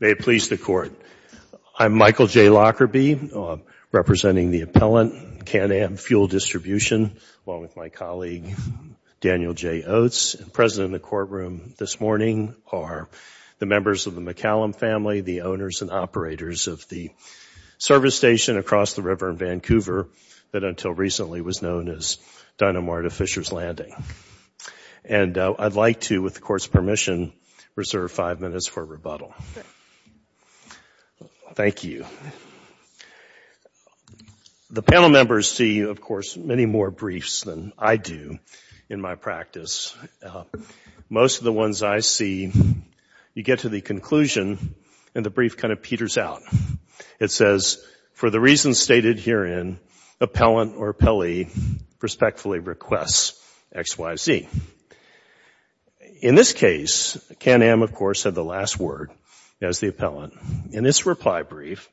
May it please the Court. I'm Michael J. Lockerbie, representing the appellant, Can-Am Fuel Distribution, along with my colleague, Daniel J. Oates, and present in the courtroom this morning are the members of the McCallum family, the owners and operators of the service station across the river in Vancouver that until recently was known as Dinah Marta Fisher's Landing. And I'd like to, with the Court's permission, reserve five minutes for rebuttal. Thank you. The panel members see, of course, many more briefs than I do in my practice. Most of the ones I see, you get to the conclusion and the brief kind of peters out. It says, for the reasons stated herein, appellant or appellee respectfully requests XYZ. In this case, Can-Am, of course, had the last word as the appellant. And this reply brief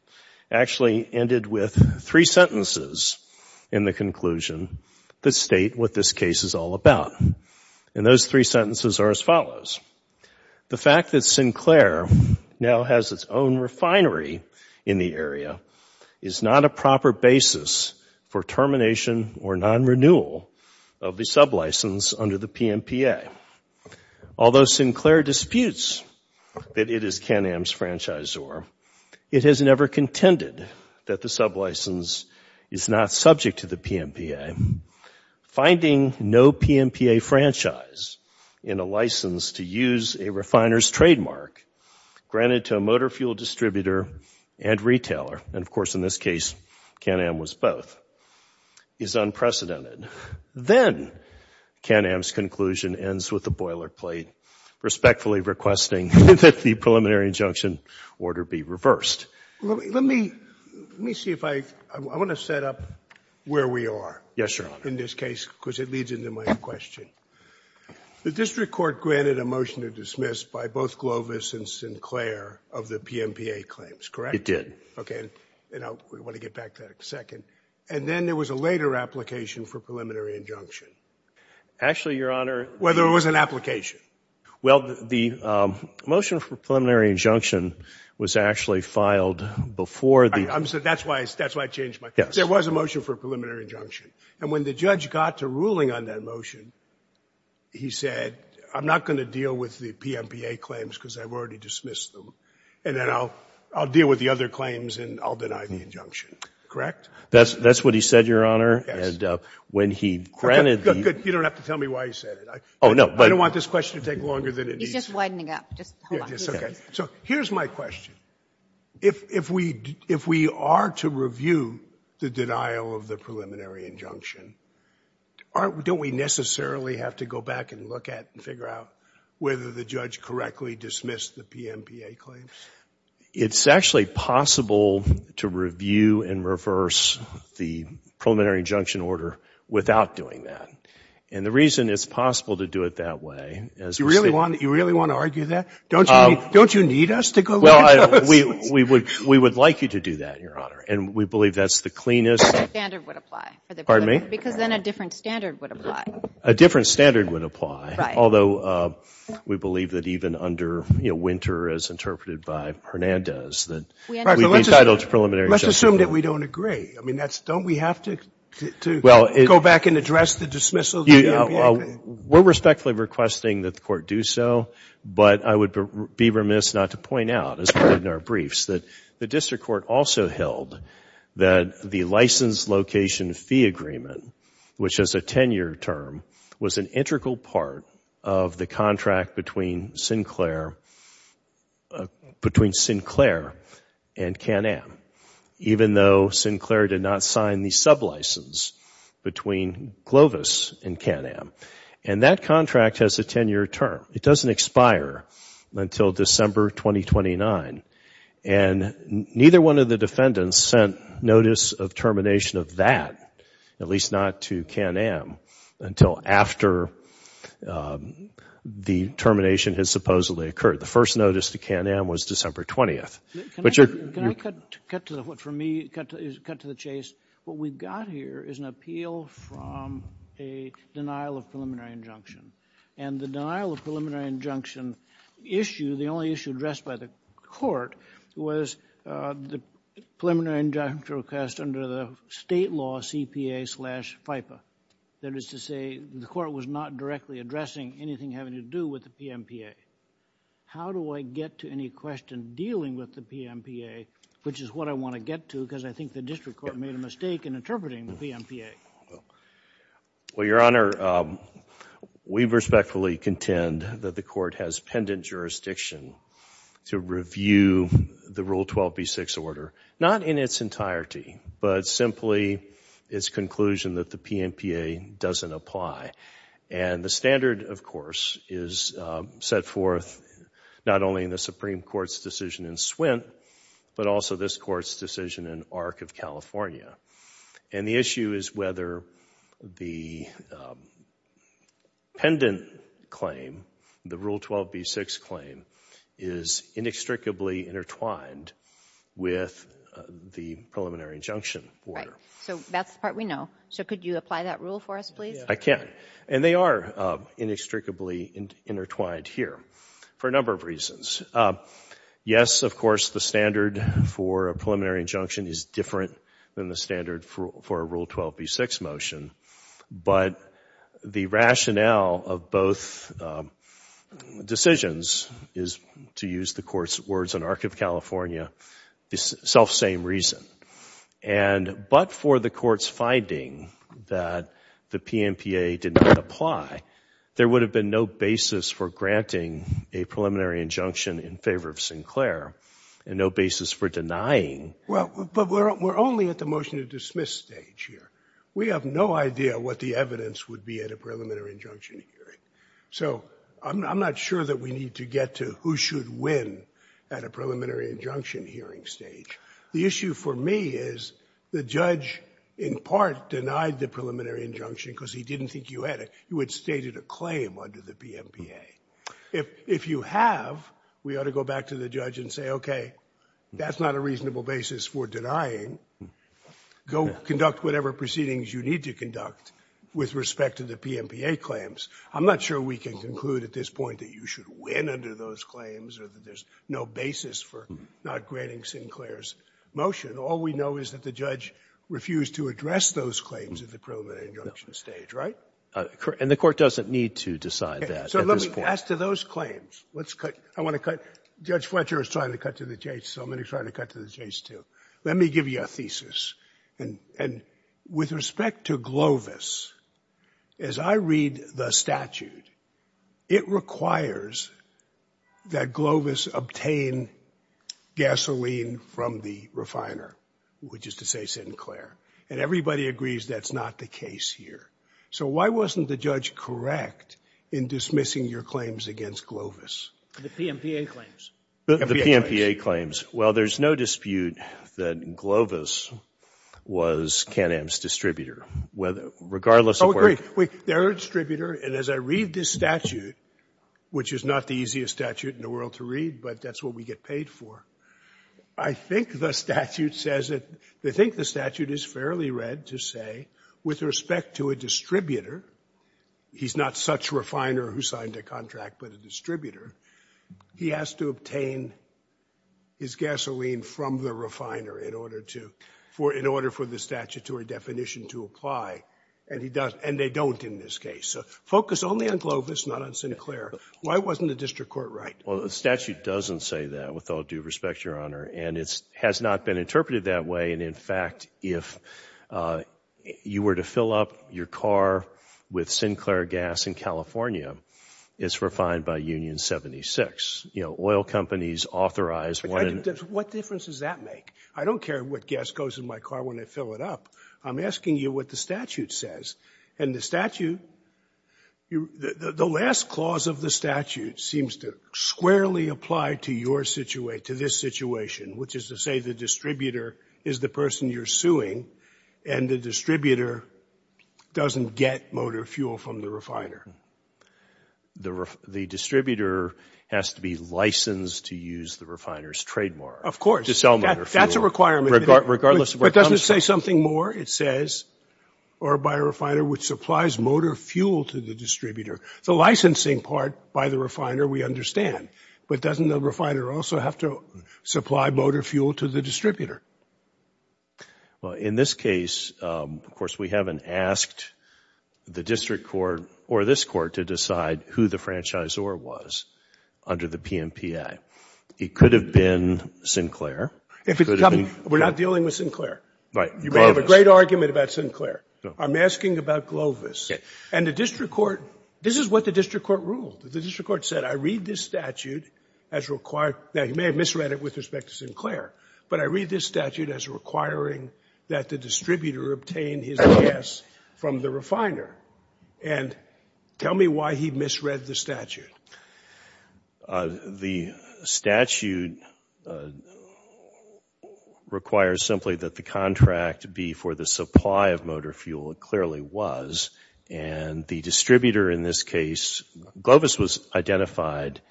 actually ended with three sentences in the conclusion that state what this case is all about. And those three sentences are as follows. The fact that Sinclair now has its own refinery in the area is not a proper basis for termination or non-renewal of the sublicense under the PMPA. Although Sinclair disputes that it is Can-Am's franchisor, it has never contended that the sublicense is not subject to the PMPA. Finding no PMPA franchise in a license to use a refiner's trademark granted to a motor fuel distributor and retailer, and of course, in this case, Can-Am was both, is unprecedented. Then Can-Am's conclusion ends with the boilerplate, respectfully requesting that the preliminary injunction order be reversed. Let me see if I, I want to set up where we are in this case, because it leads into my question. The district court granted a motion to dismiss by both Glovis and Sinclair of the PMPA claims, correct? It did. Okay, and I want to get back to that in a second. And then there was a later application for preliminary injunction. Actually, Your Honor. Whether it was an application. Well, the motion for preliminary injunction was actually filed before the. I'm so, that's why, that's why I changed my question. There was a motion for preliminary injunction, and when the judge got to ruling on that motion, he said, I'm not going to deal with the PMPA claims because I've already dismissed them, and then I'll, I'll deal with the other claims and I'll deny the injunction, correct? That's, that's what he said, Your Honor, and when he granted. Good, good. You don't have to tell me why he said it. Oh, no. I don't want this question to take longer than it needs to. He's just widening up. Just hold on. Okay, so here's my question. If, if we, if we are to review the denial of the preliminary injunction, aren't, don't we necessarily have to go back and look at that and figure out whether the judge correctly dismissed the PMPA claims? It's actually possible to review and reverse the preliminary injunction order without doing that, and the reason it's possible to do it that way is because. You really want, you really want to argue that? Don't you, don't you need us to go look at those? Well, I, we, we would, we would like you to do that, Your Honor, and we believe that's the cleanest. The standard would apply. Pardon me? Because then a different standard would apply. A different standard would apply. Right. Although, we believe that even under, you know, Winter, as interpreted by Hernandez, that we've entitled to preliminary. Let's assume that we don't agree. I mean, that's, don't we have to, to go back and address the dismissal of the PMPA? Well, we're respectfully requesting that the Court do so, but I would be remiss not to point out, as we did in our briefs, that the District Court also held that the license location fee agreement, which has a 10-year term, was an integral part of the contract between Sinclair, between Sinclair and Can-Am, even though Sinclair did not sign the sub-license between Glovis and Can-Am. And that contract has a 10-year term. It doesn't at least not to Can-Am until after the termination has supposedly occurred. The first notice to Can-Am was December 20th. Can I cut to the chase? What we've got here is an appeal from a denial of preliminary injunction. And the denial of preliminary injunction issue, the only issue addressed by the Court, was the preliminary injunction request under the state law CPA slash FIPA. That is to say, the Court was not directly addressing anything having to do with the PMPA. How do I get to any question dealing with the PMPA, which is what I want to get to, because I think the District Court made a mistake in interpreting the PMPA. Well, Your Honor, we respectfully contend that the Court has pendant jurisdiction to review the Rule 12b-6 order, not in its entirety, but simply its conclusion that the PMPA doesn't apply. And the standard, of course, is set forth not only in the Supreme Court's decision in Swint, but also this Court's decision in Arc of California. And the issue is whether the pendant claim, the Rule 12b-6 claim, is inextricably intertwined with the preliminary injunction order. Right. So that's the part we know. So could you apply that rule for us, please? I can. And they are inextricably intertwined here for a number of reasons. Yes, of course, the standard for a preliminary injunction is different than the standard for a Rule 12b-6 motion, but the rationale of both decisions is, to use the Court's words in Arc of California, self-same reason. But for the Court's finding that the PMPA did not apply, there would have been no basis for granting a preliminary injunction in favor of Sinclair, and no basis for denying. Well, but we're only at the motion to dismiss stage here. We have no idea what the evidence would be at a preliminary injunction hearing. So I'm not sure that we need to get to who should win at a preliminary injunction hearing stage. The issue for me is the judge, in part, denied the preliminary injunction because he didn't think you had it. You had stated a claim under the PMPA. If you have, we ought to go back to the judge and say, okay, that's not a reasonable basis for denying. Go conduct whatever proceedings you need to conduct with respect to the PMPA claims. I'm not sure we can conclude at this point that you should win under those claims or that there's no basis for not granting Sinclair's motion. All we know is that the judge refused to address those claims at the preliminary injunction stage, right? And the Court doesn't need to decide that at this point. So let me ask to those claims. Let's cut. I want to cut. Judge Fletcher is trying to cut to the chase, so I'm going to try to cut to the chase too. Let me give you a thesis. And with respect to Glovis, as I read the statute, it requires that Glovis obtain gasoline from the refiner, which is to say Sinclair. And everybody agrees that's not the case here. So why wasn't the judge correct in dismissing your claims against Glovis? The PMPA claims. The PMPA claims. Well, there's no dispute that Glovis was Can-Am's distributor, regardless of where it came from. Oh, great. They're a distributor, and as I read this statute, which is not the easiest statute in the world to read, but that's what we get paid for, I think the statute says that they think the statute is fairly read to say with respect to a distributor he's not such a refiner who signed a contract, but a distributor, he has to obtain his gasoline from the refiner in order for the statutory definition to apply. And they don't in this case. So focus only on Glovis, not on Sinclair. Why wasn't the district court right? Well, the statute doesn't say that, with all due respect, Your Honor. And it has not been interpreted that way, and in fact, if you were to fill up your car with Sinclair gas in California, it's refined by Union 76. You know, oil companies authorize. What difference does that make? I don't care what gas goes in my car when I fill it up. I'm asking you what the statute says. And the statute, the last clause of the statute seems to squarely apply to your situation, to this situation, which is to say the distributor is the person you're suing, and the distributor doesn't get motor fuel from the refiner. The distributor has to be licensed to use the refiner's trademark. Of course. That's a requirement. Regardless of where it comes from. But doesn't it say something more? It says, or by a refiner which supplies motor fuel to the distributor. The licensing part by the refiner, we understand. But doesn't the refiner also have to supply motor fuel to the distributor? Well, in this case, of course, we haven't asked the district court, or this court, to decide who the franchisor was under the PMPA. It could have been Sinclair. We're not dealing with Sinclair. You may have a great argument about Sinclair. I'm asking about Glovis. And the district court, this is what the district court ruled. The district court said, I read this statute as required. Now, you may have misread it with respect to Sinclair. But I read this statute as requiring that the distributor obtain his gas from the refiner. And tell me why he misread the statute. The statute requires simply that the contract be for the supply of motor fuel. It clearly was. And the distributor in this case, Glovis was identified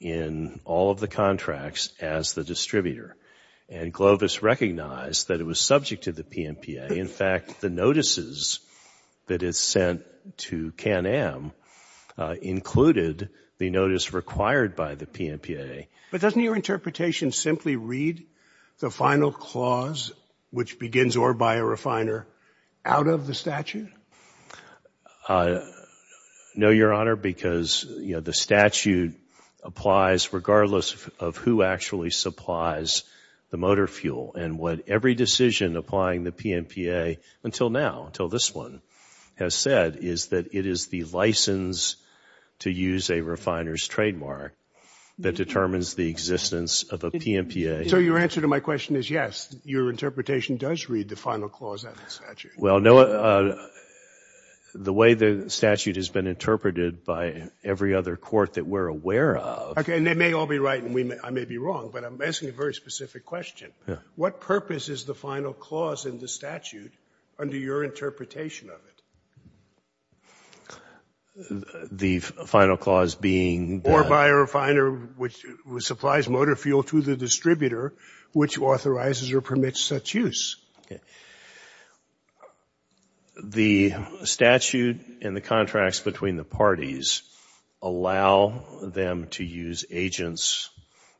in all of the contracts as the distributor. And Glovis recognized that it was subject to the PMPA. In fact, the notices that it sent to Can-Am included the notice required by the PMPA. But doesn't your interpretation simply read the final clause, which begins, or by a refiner, out of the statute? No, Your Honor, because the statute applies regardless of who actually supplies the motor fuel. And what every decision applying the PMPA until now, until this one, has said is that it is the license to use a refiner's trademark that determines the existence of a PMPA. So your answer to my question is yes, your interpretation does read the final clause out of the statute. Well, the way the statute has been interpreted by every other court that we're aware of. Okay, and they may all be right and I may be wrong, but I'm asking a very specific question. What purpose is the final clause in the statute under your interpretation of it? The final clause being that... Or by a refiner which supplies motor fuel to the distributor which authorizes or permits such use. The statute and the contracts between the parties allow them to use agents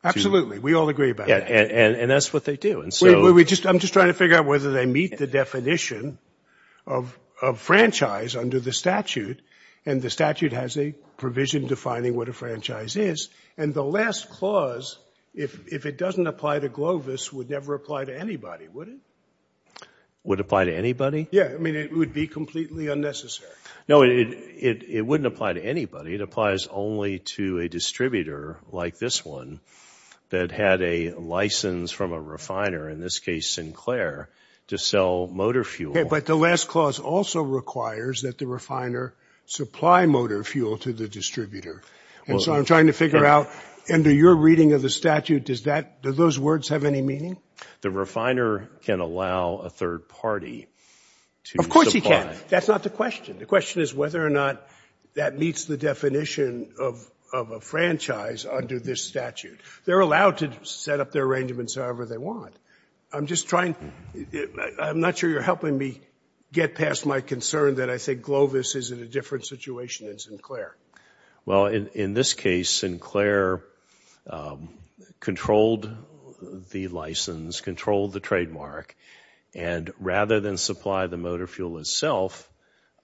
to... Absolutely, we all agree about that. And that's what they do, and so... I'm just trying to figure out whether they meet the definition of franchise under the statute. And the statute has a provision defining what a franchise is. And the last clause, if it doesn't apply to Glovis, would never apply to anybody, would it? Would it apply to anybody? Yeah, I mean it would be completely unnecessary. No, it wouldn't apply to anybody. It applies only to a distributor like this one that had a license from a refiner, in this case Sinclair, to sell motor fuel. But the last clause also requires that the refiner supply motor fuel to the distributor. And so I'm trying to figure out, under your reading of the statute, do those words have any meaning? The refiner can allow a third party to supply... Of course he can. That's not the question. The question is whether or not that meets the definition of a franchise under this statute. They're allowed to set up their arrangements however they want. I'm just trying... I'm not sure you're helping me get past my concern that I think Glovis is in a different situation than Sinclair. Well, in this case, Sinclair controlled the license, controlled the trademark, and rather than supply the motor fuel itself,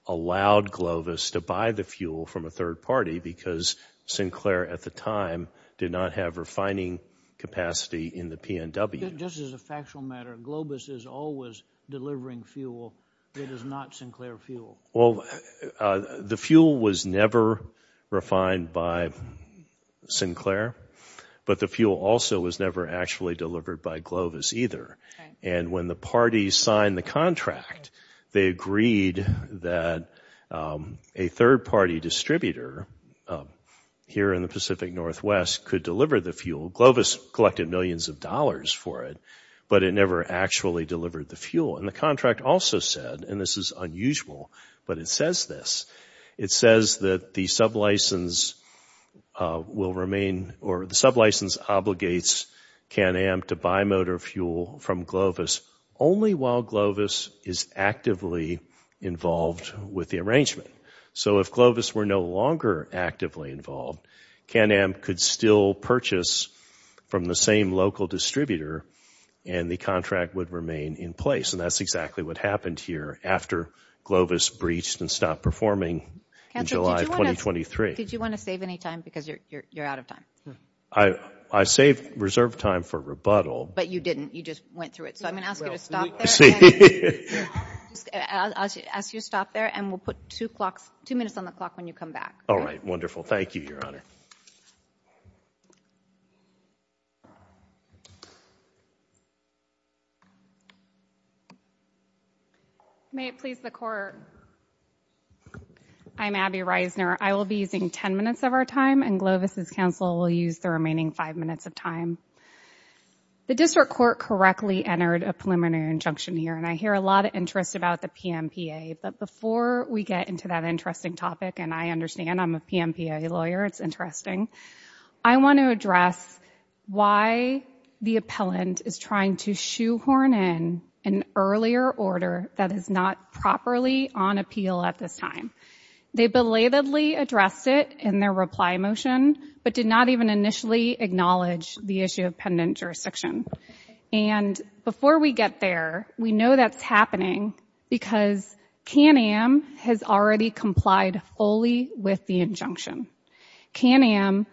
allowed Glovis to buy the fuel from a third party because Sinclair at the time did not have refining capacity in the P&W. Just as a factual matter, Glovis is always delivering fuel that is not Sinclair fuel. Well, the fuel was never refined by Sinclair, but the fuel also was never actually delivered by Glovis either. And when the parties signed the contract, they agreed that a third-party distributor here in the Pacific Northwest could deliver the fuel. Glovis collected millions of dollars for it, but it never actually delivered the fuel. And the contract also said, and this is unusual, but it says this, it says that the sublicense will remain... or the sublicense obligates Can-Am to buy motor fuel from Glovis only while Glovis is actively involved with the arrangement. So if Glovis were no longer actively involved, Can-Am could still purchase from the same local distributor and the contract would remain in place. And that's exactly what happened here after Glovis breached and stopped performing in July of 2023. Did you want to save any time? Because you're out of time. I saved reserve time for rebuttal. But you didn't. You just went through it. So I'm going to ask you to stop there. I'll ask you to stop there, and we'll put two minutes on the clock when you come back. All right, wonderful. Thank you, Your Honor. May it please the Court. I'm Abby Reisner. I will be using ten minutes of our time, and Glovis' counsel will use the remaining five minutes of time. The district court correctly entered a preliminary injunction here, and I hear a lot of interest about the PMPA. But before we get into that interesting topic, and I understand I'm a PMPA lawyer. It's interesting. I want to address why the appellant is trying to shoehorn in an earlier order that is not properly on appeal at this time. They belatedly addressed it in their reply motion, but did not even initially acknowledge the issue of pendant jurisdiction. And before we get there, we know that's happening because KNAM has already complied fully with the injunction. KNAM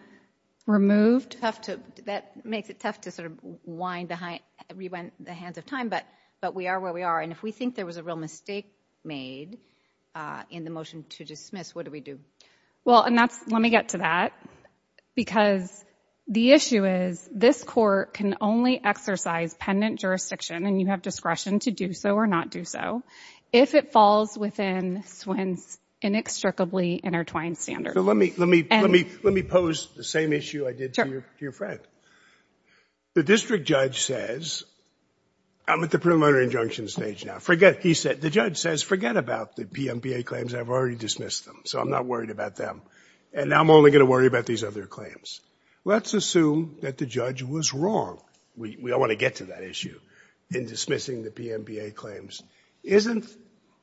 removed... That makes it tough to sort of rewind the hands of time, but we are where we are. And if we think there was a real mistake made in the motion to dismiss, what do we do? Well, and that's... Let me get to that. Because the issue is, this court can only exercise pendant jurisdiction, and you have discretion to do so or not do so, if it falls within SWIN's inextricably intertwined standards. So let me pose the same issue I did to your friend. Sure. The district judge says... I'm at the preliminary injunction stage now. Forget... He said... The judge says, forget about the PMBA claims. I've already dismissed them, so I'm not worried about them. And now I'm only going to worry about these other claims. Let's assume that the judge was wrong. We all want to get to that issue in dismissing the PMBA claims. Isn't...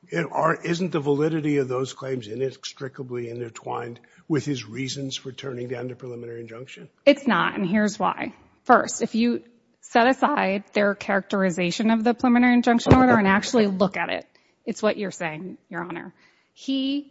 Isn't the validity of those claims inextricably intertwined with his reasons for turning down the preliminary injunction? It's not, and here's why. First, if you set aside their characterization of the preliminary injunction order and actually look at it, it's what you're saying, Your Honor. He,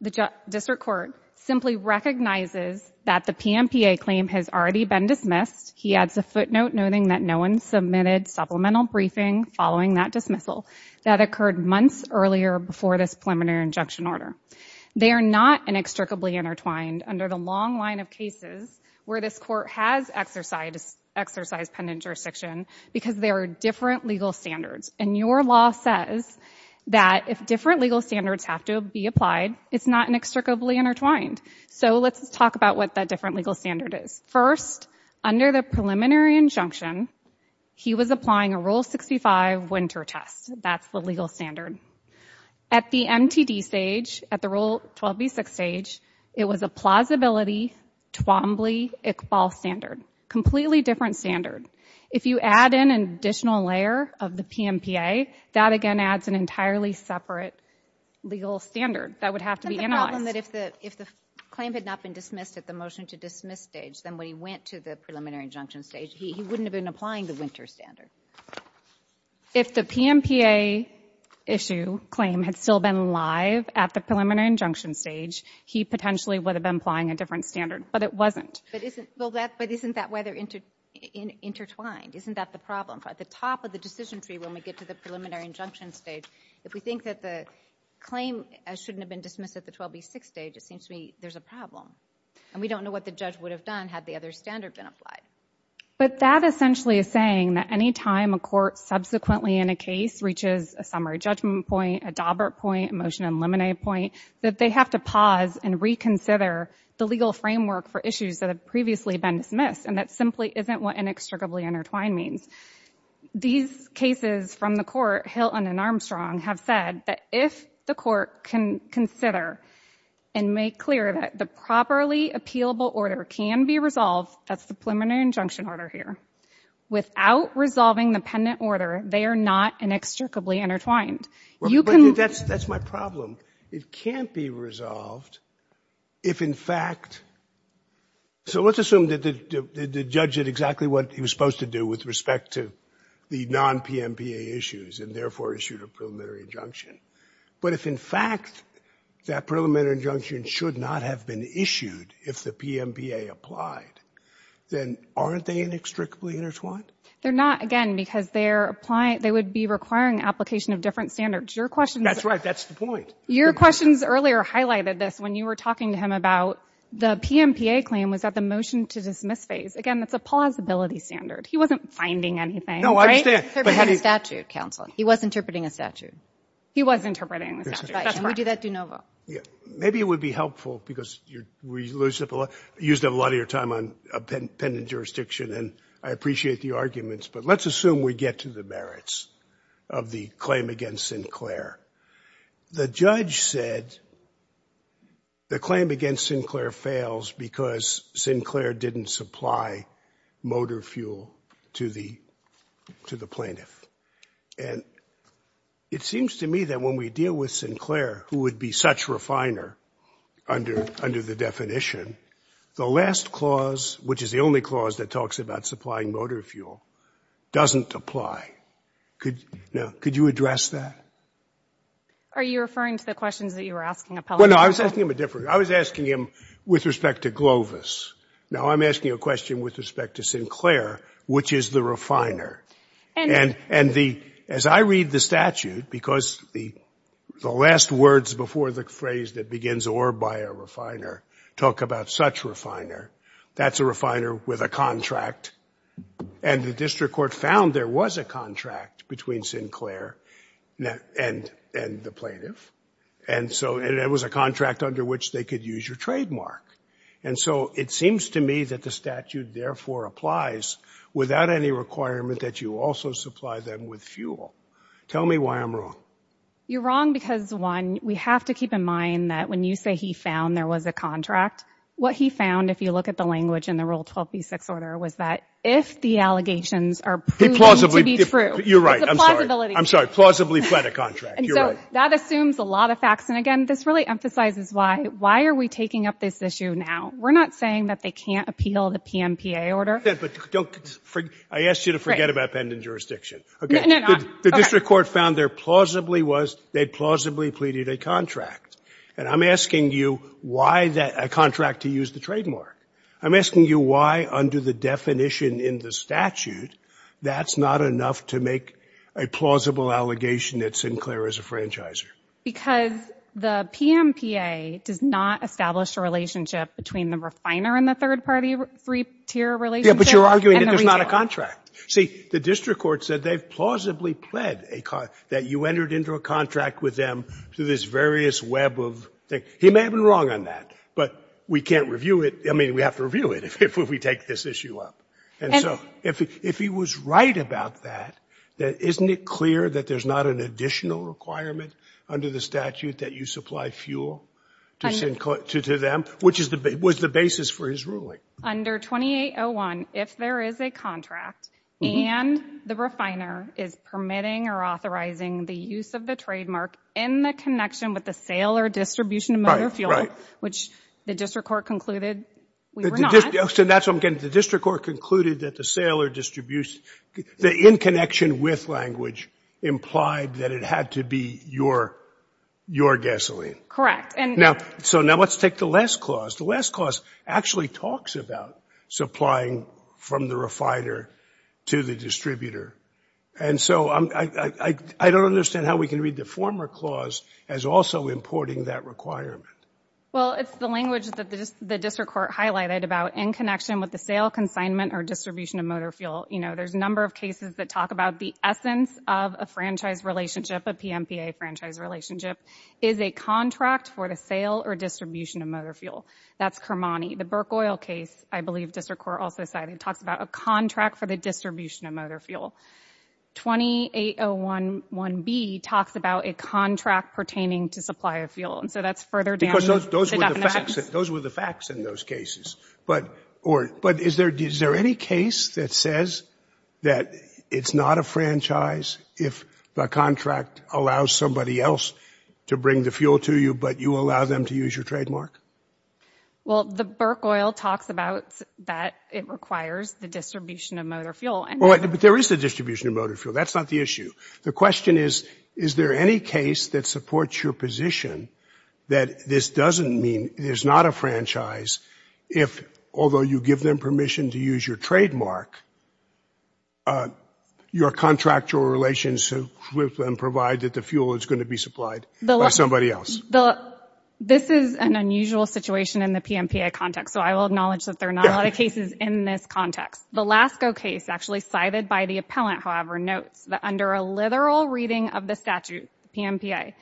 the district court, simply recognizes that the PMBA claim has already been dismissed. He adds a footnote noting that no one submitted supplemental briefing following that dismissal that occurred months earlier before this preliminary injunction order. They are not inextricably intertwined under the long line of cases where this court has exercised pendant jurisdiction because there are different legal standards. And your law says that if different legal standards have to be applied, it's not inextricably intertwined. So let's talk about what that different legal standard is. First, under the preliminary injunction, he was applying a Rule 65 winter test. That's the legal standard. At the MTD stage, at the Rule 12b6 stage, it was a plausibility, Twombly-Iqbal standard. Completely different standard. If you add in an additional layer of the PMBA, that again adds an entirely separate legal standard that would have to be analyzed. Isn't the problem that if the claim had not been dismissed at the motion-to-dismiss stage, then when he went to the preliminary injunction stage, he wouldn't have been applying the winter standard? If the PMBA issue claim had still been live at the preliminary injunction stage, he potentially would have been applying a different standard, but it wasn't. But isn't that way they're intertwined? Isn't that the problem? At the top of the decision tree when we get to the preliminary injunction stage, if we think that the claim shouldn't have been dismissed at the 12b6 stage, it seems to me there's a problem. And we don't know what the judge would have done had the other standard been applied. But that essentially is saying that any time a court subsequently in a case reaches a summary judgment point, a Daubert point, a motion eliminated point, that they have to pause and reconsider the legal framework for issues that have previously been dismissed, and that simply isn't what inextricably intertwined means. These cases from the court, Hilton and Armstrong, have said that if the court can consider and make clear that the properly appealable order can be resolved, that's the preliminary injunction order here, without resolving the pendant order, they are not inextricably intertwined. You can... But that's my problem. It can't be resolved if in fact... So let's assume that the judge did exactly what he was supposed to do with respect to the non-PMPA issues and therefore issued a preliminary injunction. But if in fact that preliminary injunction should not have been issued if the PMPA applied, then aren't they inextricably intertwined? They're not, again, because they're applying... They would be requiring application of different standards. Your question... That's right. That's the point. Your questions earlier highlighted this when you were talking to him about the PMPA claim was at the motion to dismiss phase. Again, that's a plausibility standard. He wasn't finding anything. No, I understand. He was interpreting a statute, counsel. He was interpreting a statute. He was interpreting a statute. That's right. And we do that de novo. Maybe it would be helpful because you're... You used up a lot of your time on pendant jurisdiction and I appreciate the arguments, but let's assume we get to the merits of the claim against Sinclair. The judge said the claim against Sinclair fails because Sinclair didn't supply motor fuel to the plaintiff. And it seems to me that when we deal with Sinclair, who would be such a refiner under the definition, the last clause, which is the only clause that talks about supplying motor fuel, doesn't apply. Could you address that? Are you referring to the questions that you were asking Appellant? Well, no, I was asking him a different... I was asking him with respect to Glovis. Now I'm asking a question with respect to Sinclair, which is the refiner. And the... As I read the statute, because the last words before the phrase that begins or by a refiner talk about such refiner, that's a refiner with a contract. And the district court found there was a contract between Sinclair and the plaintiff. And so... And it was a contract under which they could use your trademark. And so it seems to me that the statute therefore applies without any requirement that you also supply them with fuel. Tell me why I'm wrong. You're wrong because, one, we have to keep in mind that when you say he found there was a contract, what he found, if you look at the language in the Rule 12b-6 order, was that if the allegations are proven to be true... You're right, I'm sorry. It's a plausibility. I'm sorry, plausibly fled a contract. You're right. And so that assumes a lot of facts. And again, this really emphasizes why are we taking up this issue now? We're not saying that they can't appeal the PMPA order. But don't... I asked you to forget about pending jurisdiction. No, no, no. The district court found there plausibly was... They plausibly pleaded a contract. And I'm asking you why a contract to use the trademark. I'm asking you why under the definition in the statute that's not enough to make a plausible allegation that Sinclair is a franchisor. Because the PMPA does not establish a relationship between the refiner and the third-party three-tier relationship and the retailer. Yeah, but you're arguing that there's not a contract. See, the district court said they've plausibly pled that you entered into a contract with them through this various web of... He may have been wrong on that, but we can't review it. I mean, we have to review it if we take this issue up. And so, if he was right about that, then isn't it clear that there's not an additional requirement under the statute that you supply fuel? Under... To them? Which was the basis for his ruling. Under 2801, if there is a contract and the refiner is permitting or authorizing the use of the trademark in the connection with the sale or distribution of motor fuel... Right, right. ...which the district court concluded we were not... So that's what I'm getting. The district court concluded that the sale or distribution... The in connection with language implied that it had to be your gasoline. Correct. So now, let's take the last clause. The last clause actually talks about supplying from the refiner to the distributor. And so, I don't understand how we can read the former clause as also importing that requirement. Well, it's the language that the district court highlighted about in connection with the sale, consignment, or distribution of motor fuel. You know, there's a number of cases that talk about the essence of a franchise relationship, a PMPA franchise relationship, is a contract for the sale or distribution of motor fuel. That's Kermani. The Burke Oil case, I believe district court also cited, talks about a contract for the distribution of motor fuel. 28011B talks about a contract pertaining to supply of fuel. And so, that's further down Because those were the facts in those cases. But, is there any case that says that it's not a franchise if the contract allows somebody else to bring the fuel to you, but you allow them to use your trademark? Well, the Burke Oil talks about that it requires the distribution of motor fuel. Well, but there is the distribution of motor fuel. That's not the issue. The question is, is there any case that supports your position that this doesn't mean it is not a franchise if, although you give them permission to use your trademark, your contractual obligations with them provide that the fuel is going to be supplied by somebody else? Bill, this is an unusual situation in the PMPA context, so I will acknowledge that there are not a lot of cases in this context. The Lasko case, actually cited by the appellant, however, notes that under a literal reading of the statute, the PMPA,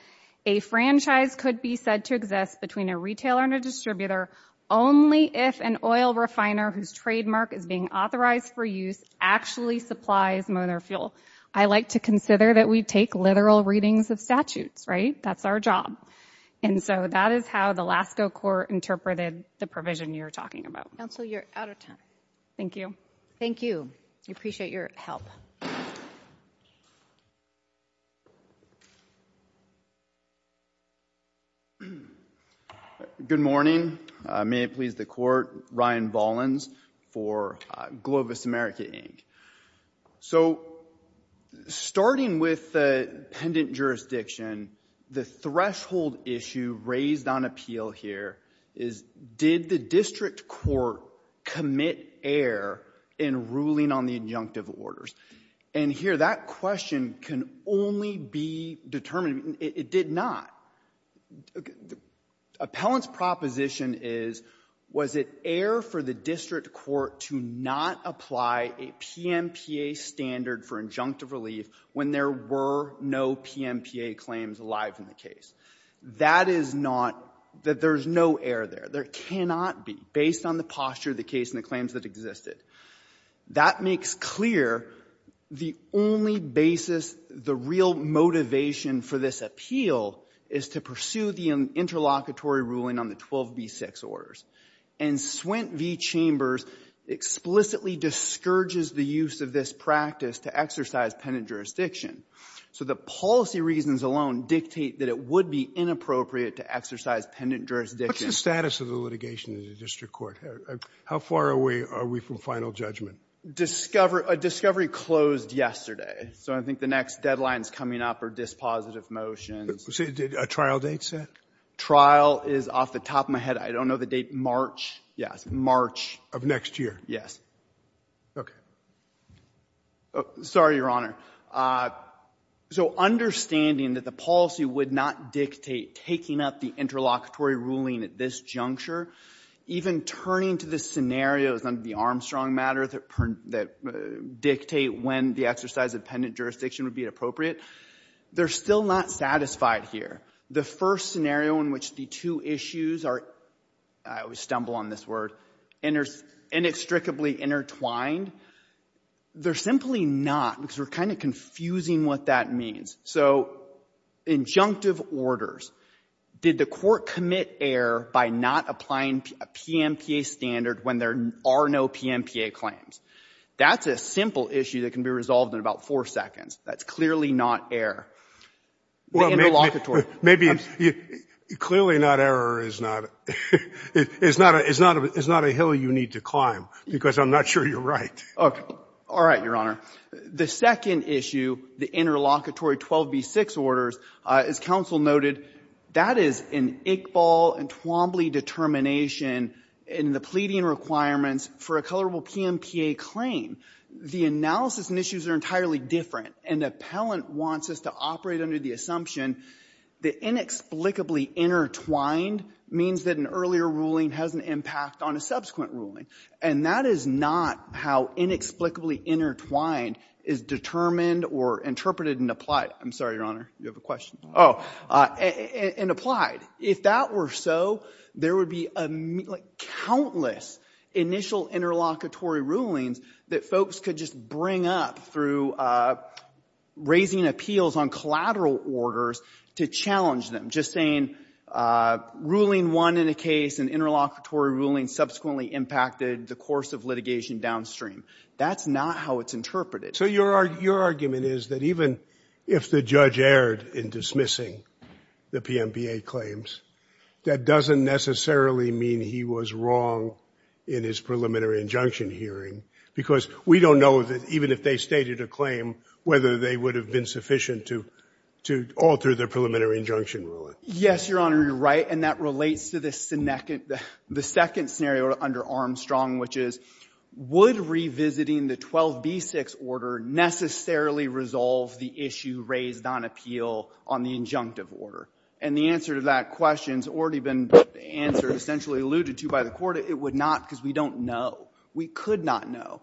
a franchise could be said to exist between a retailer and a distributor only if an oil refiner whose trademark is being authorized for use actually supplies motor fuel. I like to consider that we take literal readings of statutes, right? That's our job. And so that is how the Lasko court interpreted the provision you're talking about. you're out of time. Thank you. Thank you. We appreciate your help. Good morning. May it please the court, Ryan Bollins for Globus America Inc. So starting with the pendant jurisdiction, the threshold issue raised on appeal here is, did the district court commit error in ruling on the injunctive orders? And here, that question can only be determined it did not. Appellant's proposition is, was it error for the district court to not apply a PMPA standard for injunctive relief when there were no PMPA claims alive in the case? That is not, that there's no error there. There cannot be, based on the posture of the case and the that existed. That makes clear the only basis, the real motivation for this appeal is to the interlocutory ruling on the 12B6 orders. And Swint V. Chambers explicitly discourages the use of this practice to exercise pendant jurisdiction. So the policy reasons alone dictate that it would not be inappropriate to exercise pendant jurisdiction. What's the status of the litigation in the court? How far away are we from final judgment? Discovery closed yesterday. So I think the next deadline is coming up are dispositive motions. A trial date set? Trial is off the top of my head. I don't know the date. March. Yes. March. Of next year. Yes. Okay. Sorry, Your Honor. So understanding that the policy would not dictate taking up the interlocutory ruling at this juncture, even turning to the scenarios on the Armstrong matter that dictate when the exercise of pendant jurisdiction would be appropriate, they're still not satisfied here. The first scenario in which the two issues are inextricably intertwined, they're simply not because we're kind of confusing what that means. injunctive orders, did the commit error by not applying PMPA standard when there are no PMPA claims? That's a simple issue that can be resolved in about four seconds. That's I'm not sure you're right. All right, Your Honor. The second issue, the interlocutory 12B6 orders, as noted, that is an Iqbal and determination in the pleading requirements for a colorable PMPA claim. The analysis and issues are entirely different. An appellant wants us to operate under the that inexplicably intertwined means that an earlier ruling has an on a subsequent ruling. And that is not how inexplicably intertwined is determined or interpreted and applied. I'm sorry, Your Honor, you have a question. Oh, and applied. If that were so, there would be countless initial interlocutory rulings that folks could just bring up through raising appeals on collateral orders to challenge them. I'm just saying ruling one in a case, an interlocutory ruling subsequently impacted the course of downstream. That's not how it's interpreted. So your argument is that even if the erred in dismissing the PMBA claims that doesn't necessarily mean he was wrong in his injunction hearing because we don't know that even if they stated a claim whether they would have been sufficient to alter the preliminary injunction ruling. Your Honor, you're trying the issue raised on appeal on the injunctive order. And the answer to that question has already been answered essentially alluded to by the court. It would not because we don't know. We could not prove or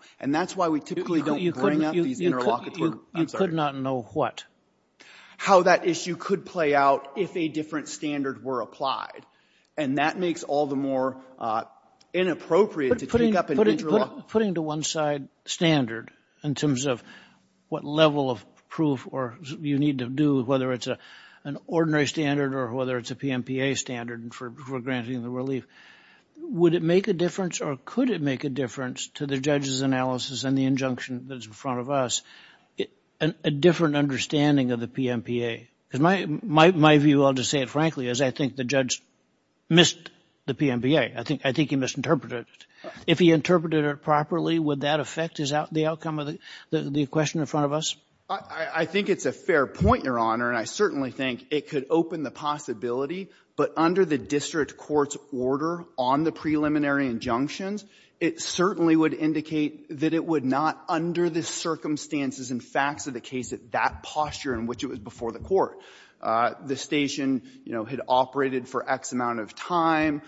you need to do whether it's an ordinary standard or whether it's a PMBA standard for granting the relief. Would it make a or could it make a difference to the judge's analysis and the that's in front of us a different understanding of the PMBA? Because my view I'll just say it frankly is I think the judge missed the PMBA. I if he interpreted it properly would that affect the question in front of us? think it's a fair point your and I certainly think it could open the possibility but under the court's order on the preliminary injunctions it certainly would indicate that it would not under the circumstances and facts of the case that posture in which it was before the court the station had operated for X amount of time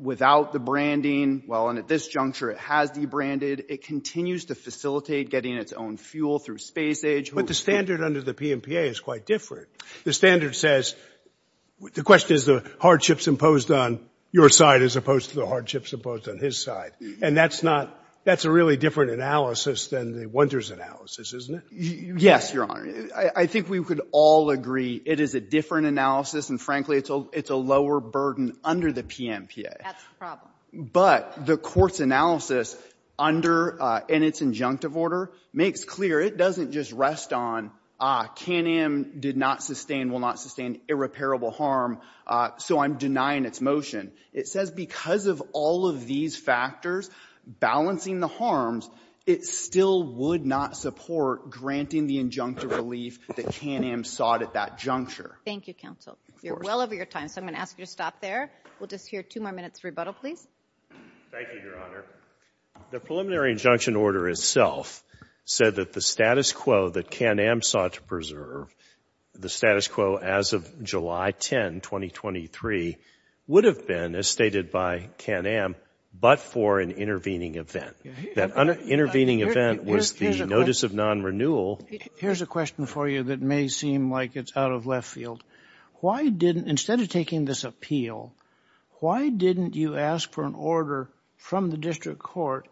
without the well at this juncture it has the branding it continues to getting its own fuel through space age but the standard under the PMPA is quite different the standard says the question is the hardships imposed on your side as opposed to the hardships imposed on his side and that's not that's a really different analysis than the yes your honor I think we could all agree it is a different analysis and frankly it's a lower burden under the PMPA but the court's under in its injunctive order makes clear it doesn't just rest on ah K&M did not sustain will not sustain K&M sought at that juncture thank you counsel you're well over your time so I'm going to ask you to stop there we'll just hear two more minutes rebuttal please thank you your just a question for you that may seem like it's out of left field why didn't instead of taking this appeal why didn't you ask for an order from the district court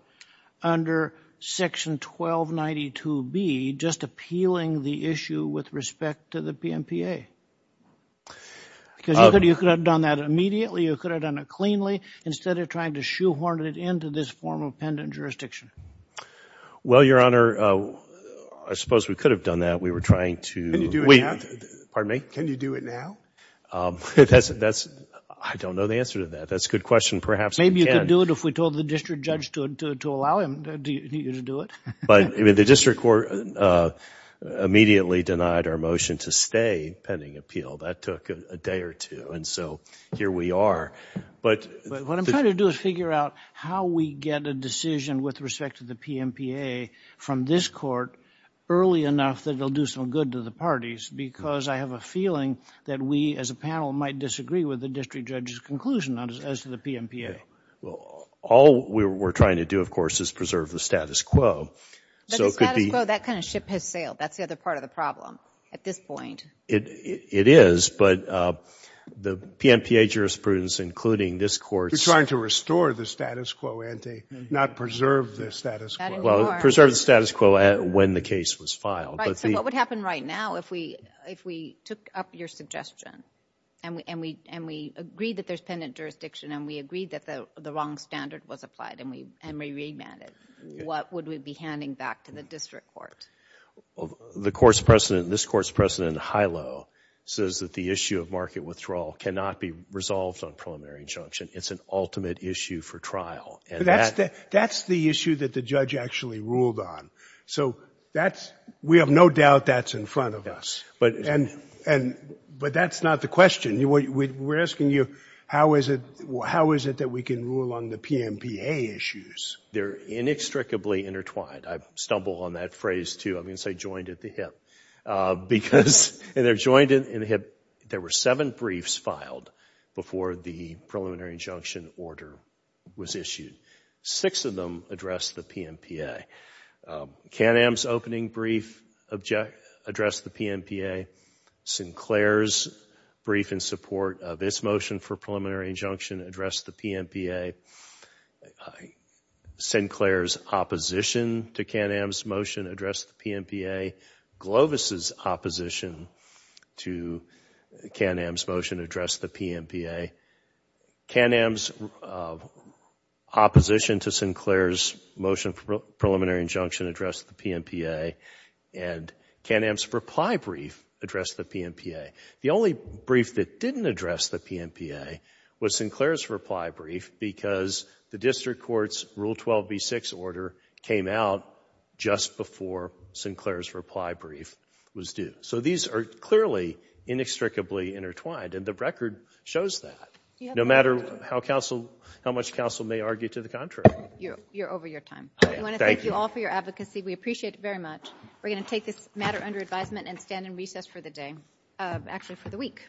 to stay pending appeal that took a day or two and so here we are but what I'm do is figure out how we get a decision with respect to the PMPA from this court early enough that the PMPA some good to the parties because I have a feeling that we as a might disagree with the district judge's as to the PMPA all we're trying to do is preserve the quo so could be that kind of ship has sailed that's the other part of the problem at this point it is but the PMPA jurisprudence including this court we're to the status quo when the case was filed what would happen right now if we if we took up your suggestion and we agreed that the wrong standard was applied and we remanded what would we be handing back to the district court the court's precedent this court's precedent the court's doubt that the judge actually ruled on so we have no doubt that's in front of us. But that's not the question. We're asking you how is it that we can rule on the PMPA issues? They're inextricably intertwined. I stumble on that phrase too. I'm going to say joined at the hip. There were seven briefs filed before the injunction order was issued. Six of them addressed the PMPA. Can-Am's opening brief addressed the PMPA. Sinclair's brief in support of its motion for preliminary injunction addressed the PMPA. Can-Am's motion addressed the PMPA. Can-Am's opposition to Sinclair's motion for preliminary injunction addressed the PMPA. And Can-Am's reply brief addressed the PMPA. The only other was due. So these are clearly inextricably intertwined. No matter how much counsel may argue to the contrary. Thank you all for your advocacy. appreciate it very much. We're going to take this matter under advisement and stand in recess for the week.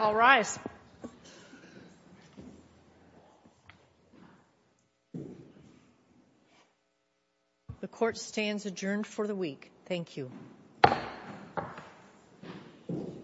All rise. The court stands adjourned for the Thank you.